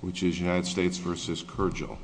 which is United States v. Kyrgyz. Thank you.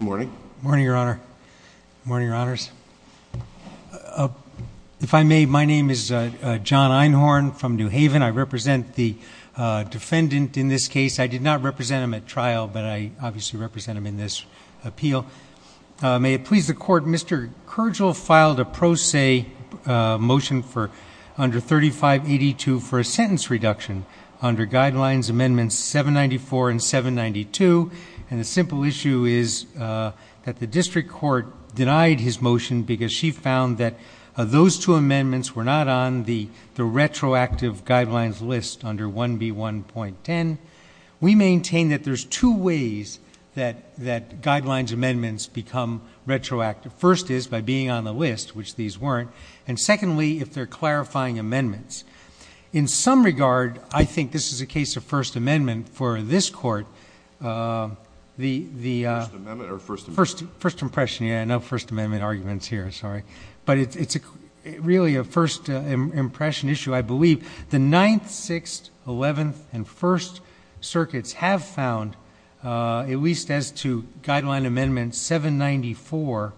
Morning. Morning, Your Honor. Morning, Your Honors. If I may, my name is John Einhorn from New Haven. I represent the defendant in this case. I did not represent him at trial, but I obviously represent him in this appeal. May it please the court, Mr. Kyrgyz filed a pro se motion for under 3582 for a sentence reduction under guidelines amendments 794 and 792. And the simple issue is that the district court denied his motion because she found that those two amendments were not on the retroactive guidelines list under 1B1.10. We maintain that there's two ways that guidelines amendments become retroactive. First is by being on the list, which these weren't. And secondly, if they're clarifying amendments. In some regard, I think this is a case of first amendment for this court. The first impression, yeah, no first amendment arguments here, sorry. But it's really a first impression issue, I believe. The 9th, 6th, 11th, and 1st circuits have found, at least as to guideline amendment 794,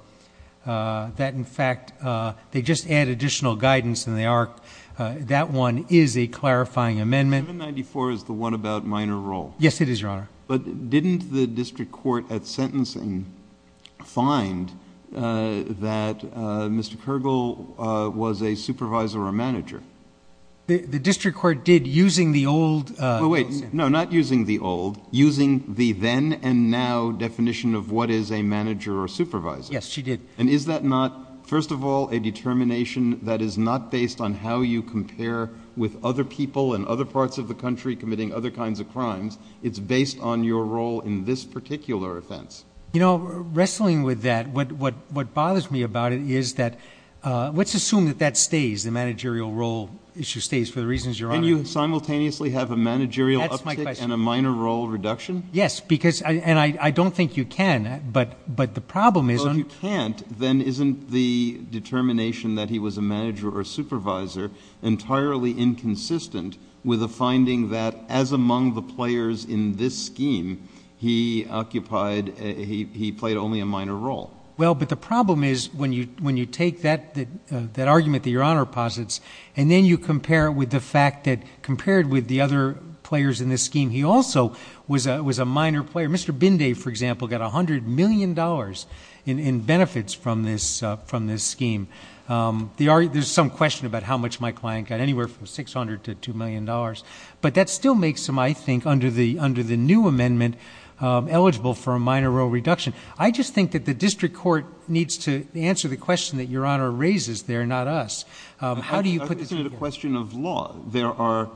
that in fact, they just add additional guidance and that one is a clarifying amendment. 794 is the one about minor role. Yes, it is, Your Honor. But didn't the district court at sentencing find that Mr. Kergel was a supervisor or a manager? The district court did using the old. Wait, no, not using the old. Using the then and now definition of what is a manager or supervisor. Yes, she did. And is that not, first of all, a determination that is not based on how you compare with other people in other parts of the country committing other kinds of crimes? It's based on your role in this particular offense. You know, wrestling with that, what bothers me about it is that, let's assume that that stays, the managerial role issue stays, for the reasons, Your Honor. Can you simultaneously have a managerial uptick and a minor role reduction? Yes, because, and I don't think you can, but the problem is. Well, if you can't, then isn't the determination that he was a manager or supervisor entirely inconsistent with the finding that, as among the players in this scheme, he played only a minor role? Well, but the problem is, when you take that argument that Your Honor posits, and then you compare it with the fact that, compared with the other players in this scheme, he also was a minor player. Mr. Binday, for example, got $100 million in benefits from this scheme. There's some question about how much my client got, anywhere from $600 to $2 million. But that still makes him, I think, under the new amendment, eligible for a minor role reduction. I just think that the district court needs to answer the question that Your Honor raises there, not us. How do you put this together? I think it's a question of law. There are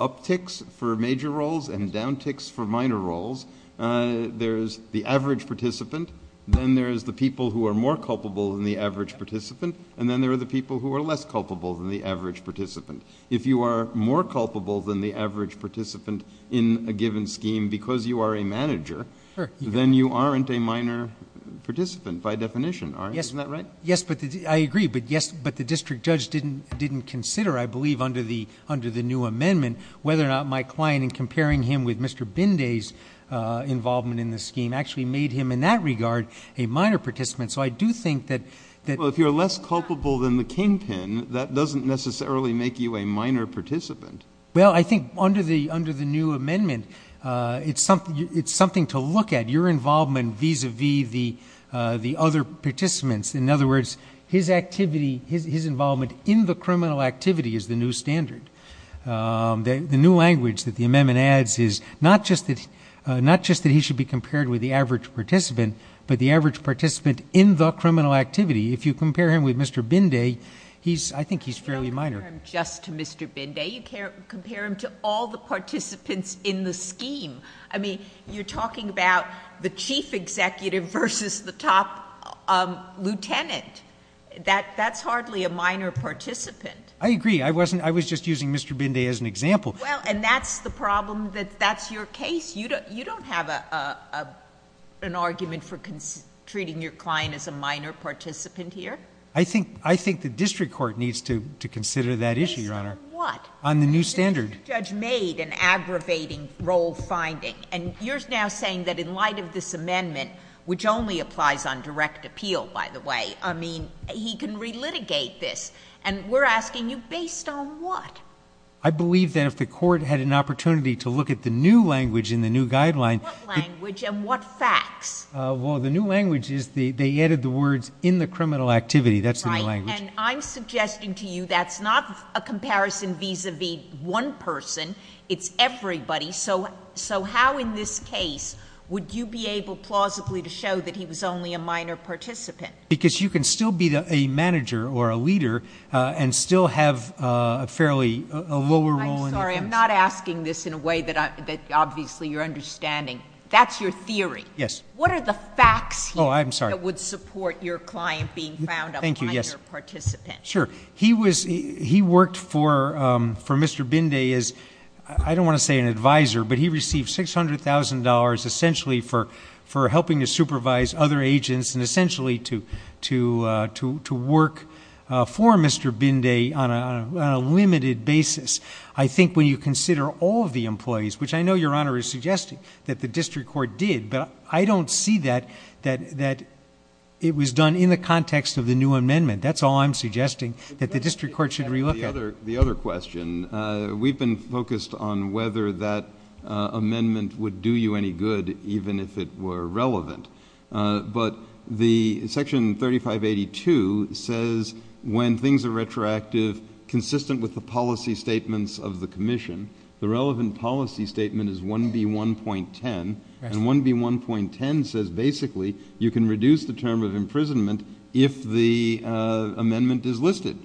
upticks for major roles and downticks for minor roles. There is the average participant. Then there is the people who are more culpable than the average participant. And then there are the people who are less culpable than the average participant. If you are more culpable than the average participant in a given scheme because you are a manager, then you aren't a minor participant, by definition, aren't you? Isn't that right? Yes, I agree. But yes, but the district judge didn't consider, I believe, under the new amendment, whether or not my client, in comparing him with Mr. Binday's involvement in the scheme, actually made him, in that regard, a minor participant. So I do think that that Well, if you're less culpable than the kingpin, that doesn't necessarily make you a minor participant. Well, I think under the new amendment, it's something to look at. Your involvement vis-a-vis the other participants. In other words, his activity, his involvement in the criminal activity is the new standard. The new language that the amendment adds is not just that he should be compared with the average participant, but the average participant in the criminal activity. If you compare him with Mr. Binday, I think he's fairly minor. Just to Mr. Binday, you can't compare him to all the participants in the scheme. I mean, you're talking about the chief executive versus the top lieutenant. That's hardly a minor participant. I agree. I was just using Mr. Binday as an example. Well, and that's the problem that that's your case. You don't have an argument for treating your client as a minor participant here. I think the district court needs to consider that issue, Your Honor. Based on what? On the new standard. The district judge made an aggravating role finding. And you're now saying that in light of this amendment, which only applies on direct appeal, by the way, I mean, he can relitigate this. And we're asking you, based on what? I believe that if the court had an opportunity to look at the new language in the new guideline. What language and what facts? Well, the new language is they added the words in the criminal activity. That's the new language. Right, and I'm suggesting to you that's not a comparison vis-a-vis one person. It's everybody. So how in this case would you be able plausibly to show that he was only a minor participant? Because you can still be a manager or a leader and still have a fairly lower role in the case. I'm sorry, I'm not asking this in a way that obviously you're understanding. That's your theory. Yes. What are the facts here that would support your client being found a minor participant? Sure, he worked for Mr. Binde as, I don't want to say an advisor, but he received $600,000 essentially for helping to supervise other agents and essentially to work for Mr. Binde on a limited basis. I think when you consider all of the employees, which I know your honor is suggesting that the district court did, but I don't see that it was done in the context of the new amendment. That's all I'm suggesting that the district court should relook at. The other question, we've been focused on whether that amendment would do you any good even if it were relevant. But the section 3582 says when things are retroactive, consistent with the policy statements of the commission, the relevant policy statement is 1B1.10. And 1B1.10 says basically you can reduce the term of imprisonment if the amendment is listed.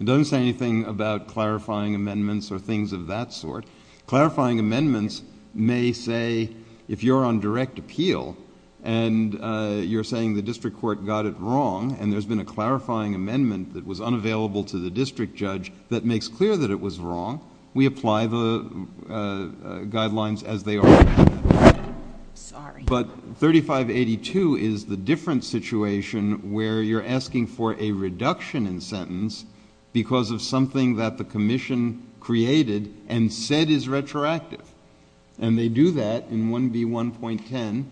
It doesn't say anything about clarifying amendments or things of that sort. Clarifying amendments may say if you're on direct appeal and you're saying the district court got it wrong and there's been a clarifying amendment that was unavailable to the district judge that makes clear that it was wrong, we apply the guidelines as they are. Sorry. But 3582 is the different situation where you're asking for a reduction in sentence because of something that the commission created and said is retroactive. And they do that in 1B1.10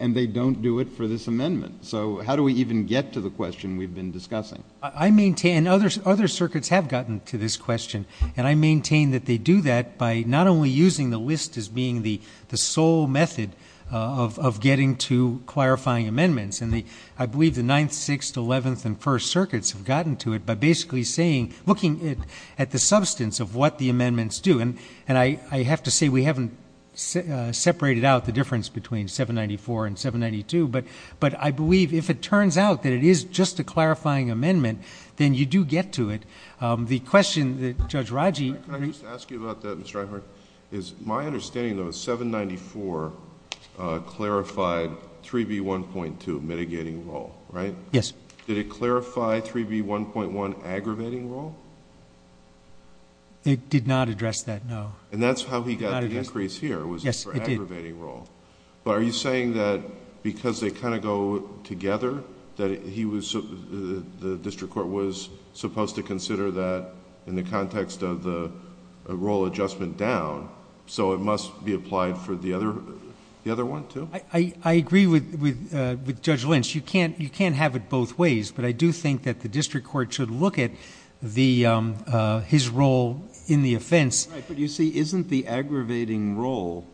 and they don't do it for this amendment. So how do we even get to the question we've been discussing? I maintain, other circuits have gotten to this question and I maintain that they do that by not only using the list as being the sole method of getting to clarifying amendments and I believe the 9th, 6th, 11th and 1st circuits have gotten to it by basically looking at the substance of what the amendments do. And I have to say we haven't separated out the difference between 794 and 792 but I believe if it turns out that it is just a clarifying amendment then you do get to it. The question that Judge Raji. Can I just ask you about that Mr. Eichhorn? Is my understanding though 794 clarified 3B1.2 mitigating role, right? Yes. Did it clarify 3B1.1 aggravating role? It did not address that, no. And that's how he got the increase here was for aggravating role. But are you saying that because they kind of go together that he was, the district court was supposed to consider that in the context of the role adjustment down so it must be applied for the other one too? I agree with Judge Lynch. You can't have it both ways but I do think that the district court should look at his role in the offense. But you see isn't the aggravating role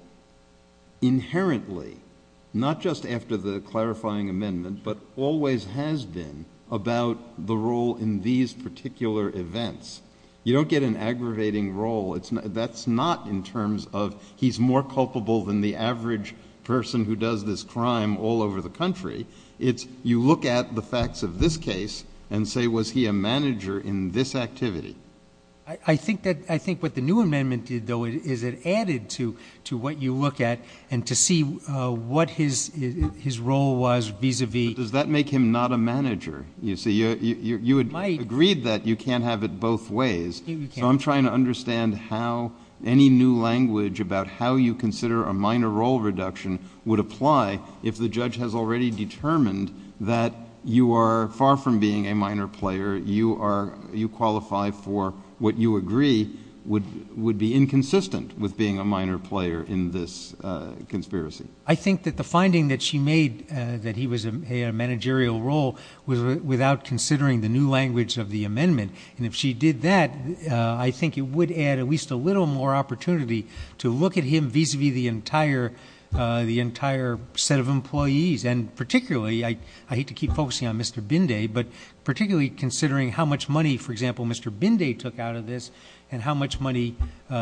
inherently not just after the clarifying amendment but always has been about the role in these particular events. You don't get an aggravating role. That's not in terms of he's more culpable than the average person who does this crime all over the country. It's you look at the facts of this case and say was he a manager in this activity? I think what the new amendment did though is it added to what you look at and to see what his role was vis-a-vis. Does that make him not a manager? You see, you agreed that you can't have it both ways. So I'm trying to understand how any new language about how you consider a minor role reduction would apply if the judge has already determined that you are far from being a minor player. You qualify for what you agree would be inconsistent with being a minor player in this conspiracy. I think that the finding that she made that he was a managerial role was without considering the new language of the amendment. And if she did that, I think it would add at least a little more opportunity to look at him vis-a-vis the entire set of employees. And particularly, I hate to keep focusing on Mr. Binday, but particularly considering how much money, for example, Mr. Binday took out of this and how much money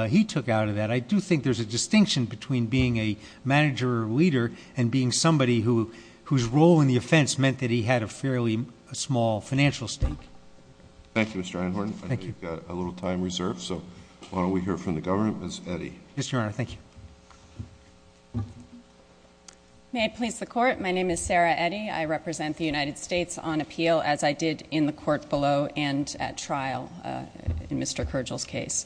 he took out of that. I do think there's a distinction between being a manager or leader and being somebody whose role in the offense meant that he had a fairly small financial stake. Thank you, Mr. Einhorn. I know you've got a little time reserved, so why don't we hear from the government, Ms. Eddy. Yes, Your Honor, thank you. May I please the court? My name is Sarah Eddy. I represent the United States on appeal as I did in the court below and at trial in Mr. Kergel's case.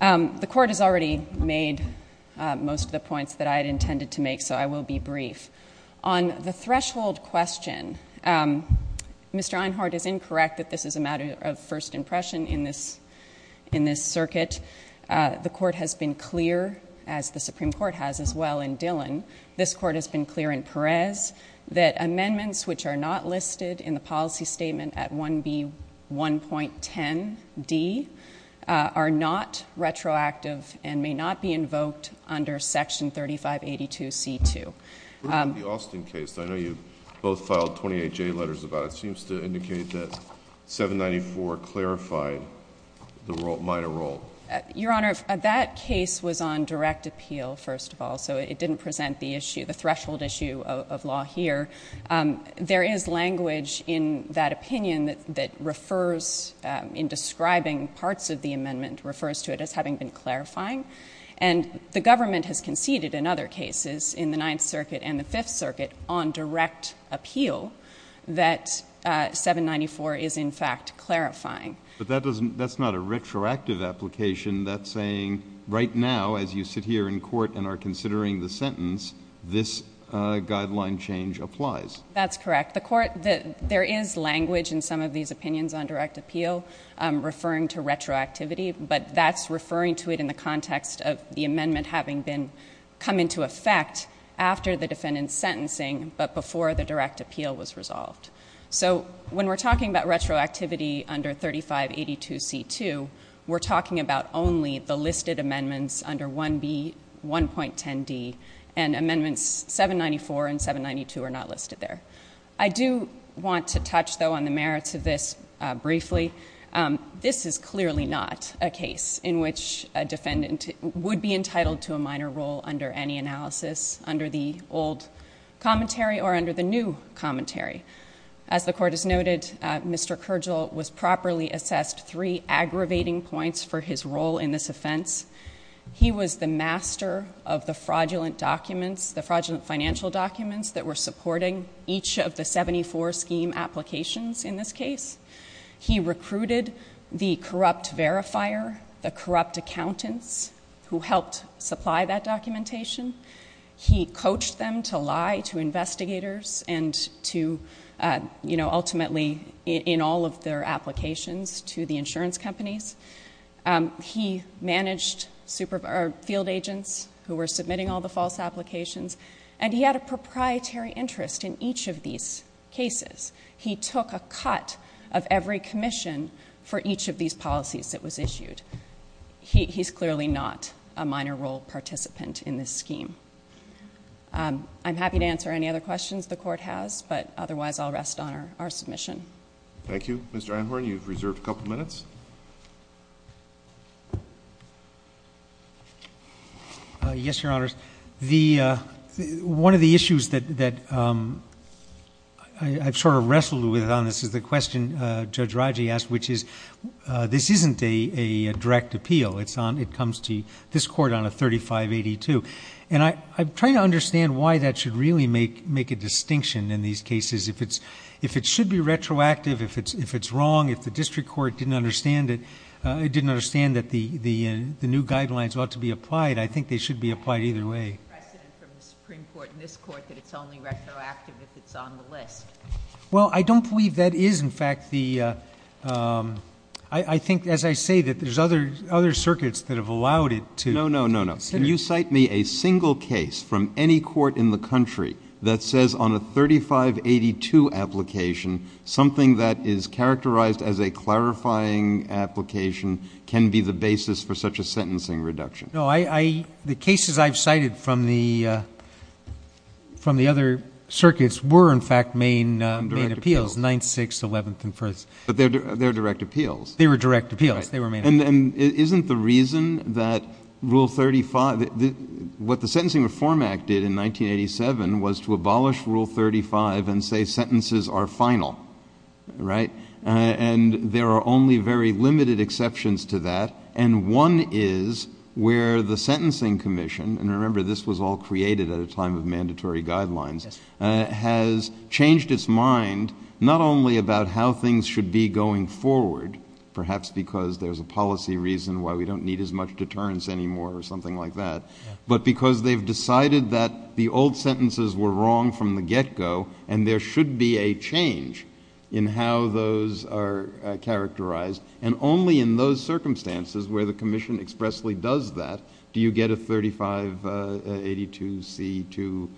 The court has already made most of the points that I had intended to make, so I will be brief. On the threshold question, Mr. Einhorn is incorrect that this is a matter of first impression in this circuit. The court has been clear, as the Supreme Court has been clear, and the court has as well in Dillon, this court has been clear in Perez that amendments which are not listed in the policy statement at 1B1.10D are not retroactive and may not be invoked under section 3582C2. The Austin case, I know you both filed 28J letters about it. It seems to indicate that 794 clarified the minor role. Your Honor, that case was on direct appeal first of all, so it didn't present the issue, the threshold issue of law here. There is language in that opinion that refers in describing parts of the amendment, refers to it as having been clarifying, and the government has conceded in other cases in the Ninth Circuit and the Fifth Circuit on direct appeal that 794 is in fact clarifying. But that's not a retroactive application. That's saying right now as you sit here in court and are considering the sentence, this guideline change applies. That's correct. There is language in some of these opinions on direct appeal referring to retroactivity, but that's referring to it in the context of the amendment having come into effect after the defendant's sentencing but before the direct appeal was resolved. So when we're talking about retroactivity under 3582C2, we're talking about only the listed amendments under 1B1.10D and amendments 794 and 792 are not listed there. I do want to touch though on the merits of this briefly. This is clearly not a case in which a defendant would be entitled to a minor role under any analysis under the old commentary or under the new commentary. As the court has noted, Mr. Kergel was properly assessed three aggravating points for his role in this offense. He was the master of the fraudulent documents, the fraudulent financial documents that were supporting each of the 74 scheme applications in this case. He recruited the corrupt verifier, the corrupt accountants who helped supply that documentation. He coached them to lie to investigators and to ultimately in all of their applications to the insurance companies. He managed field agents who were submitting all the false applications and he had a proprietary interest in each of these cases. He took a cut of every commission for each of these policies that was issued. He's clearly not a minor role participant in this scheme. I'm happy to answer any other questions the court has but otherwise I'll rest on our submission. Thank you. Mr. Anhorn, you've reserved a couple of minutes. Yes, your honors. One of the issues that I've sort of wrestled with on this is the question Judge Raji asked, which is this isn't a direct appeal. It comes to this court on a 3582. And I'm trying to understand why that should really make a distinction in these cases. If it should be retroactive, if it's wrong, if the district court didn't understand that the new guidelines ought to be applied, I think they should be applied either way. I said it from the Supreme Court in this court that it's only retroactive if it's on the list. Well, I don't believe that is in fact the, I think as I say that there's other circuits that have allowed it to. No, no, no, no. Can you cite me a single case from any court in the country that says on a 3582 application, something that is characterized as a clarifying application can be the basis for such a sentencing reduction? No, the cases I've cited from the other circuits were in fact main appeals, 9th, 6th, 11th, and 1st. But they're direct appeals. They were direct appeals. They were main appeals. And isn't the reason that rule 35, what the Sentencing Reform Act did in 1987 was to abolish rule 35 and say sentences are final, right? And there are only very limited exceptions to that. And one is where the Sentencing Commission, and remember this was all created at a time of mandatory guidelines, has changed its mind not only about how things should be going forward, perhaps because there's a policy reason why we don't need as much deterrence anymore or something like that, but because they've decided that the old sentences were wrong from the get-go and there should be a change in how those are characterized. And only in those circumstances where the commission expressly does that do you get a 3582C2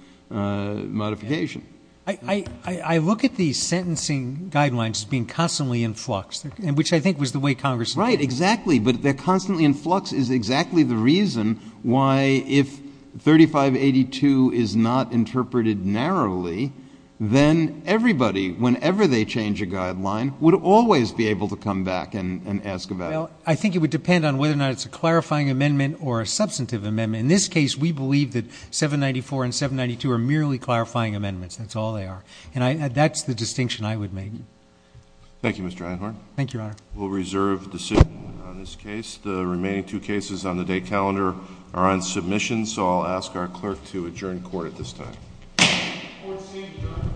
modification. I look at these sentencing guidelines as being constantly in flux, which I think was the way Congress- Right, exactly, but they're constantly in flux is exactly the reason why if 3582 is not interpreted narrowly, then everybody, whenever they change a guideline, would always be able to come back and ask about it. I think it would depend on whether or not it's a clarifying amendment or a substantive amendment. In this case, we believe that 794 and 792 are merely clarifying amendments. That's all they are. And that's the distinction I would make. Thank you, Mr. Einhorn. Thank you, Your Honor. We'll reserve the decision on this case. The remaining two cases on the day calendar are on submission, so I'll ask our clerk to adjourn court at this time. Court is adjourned.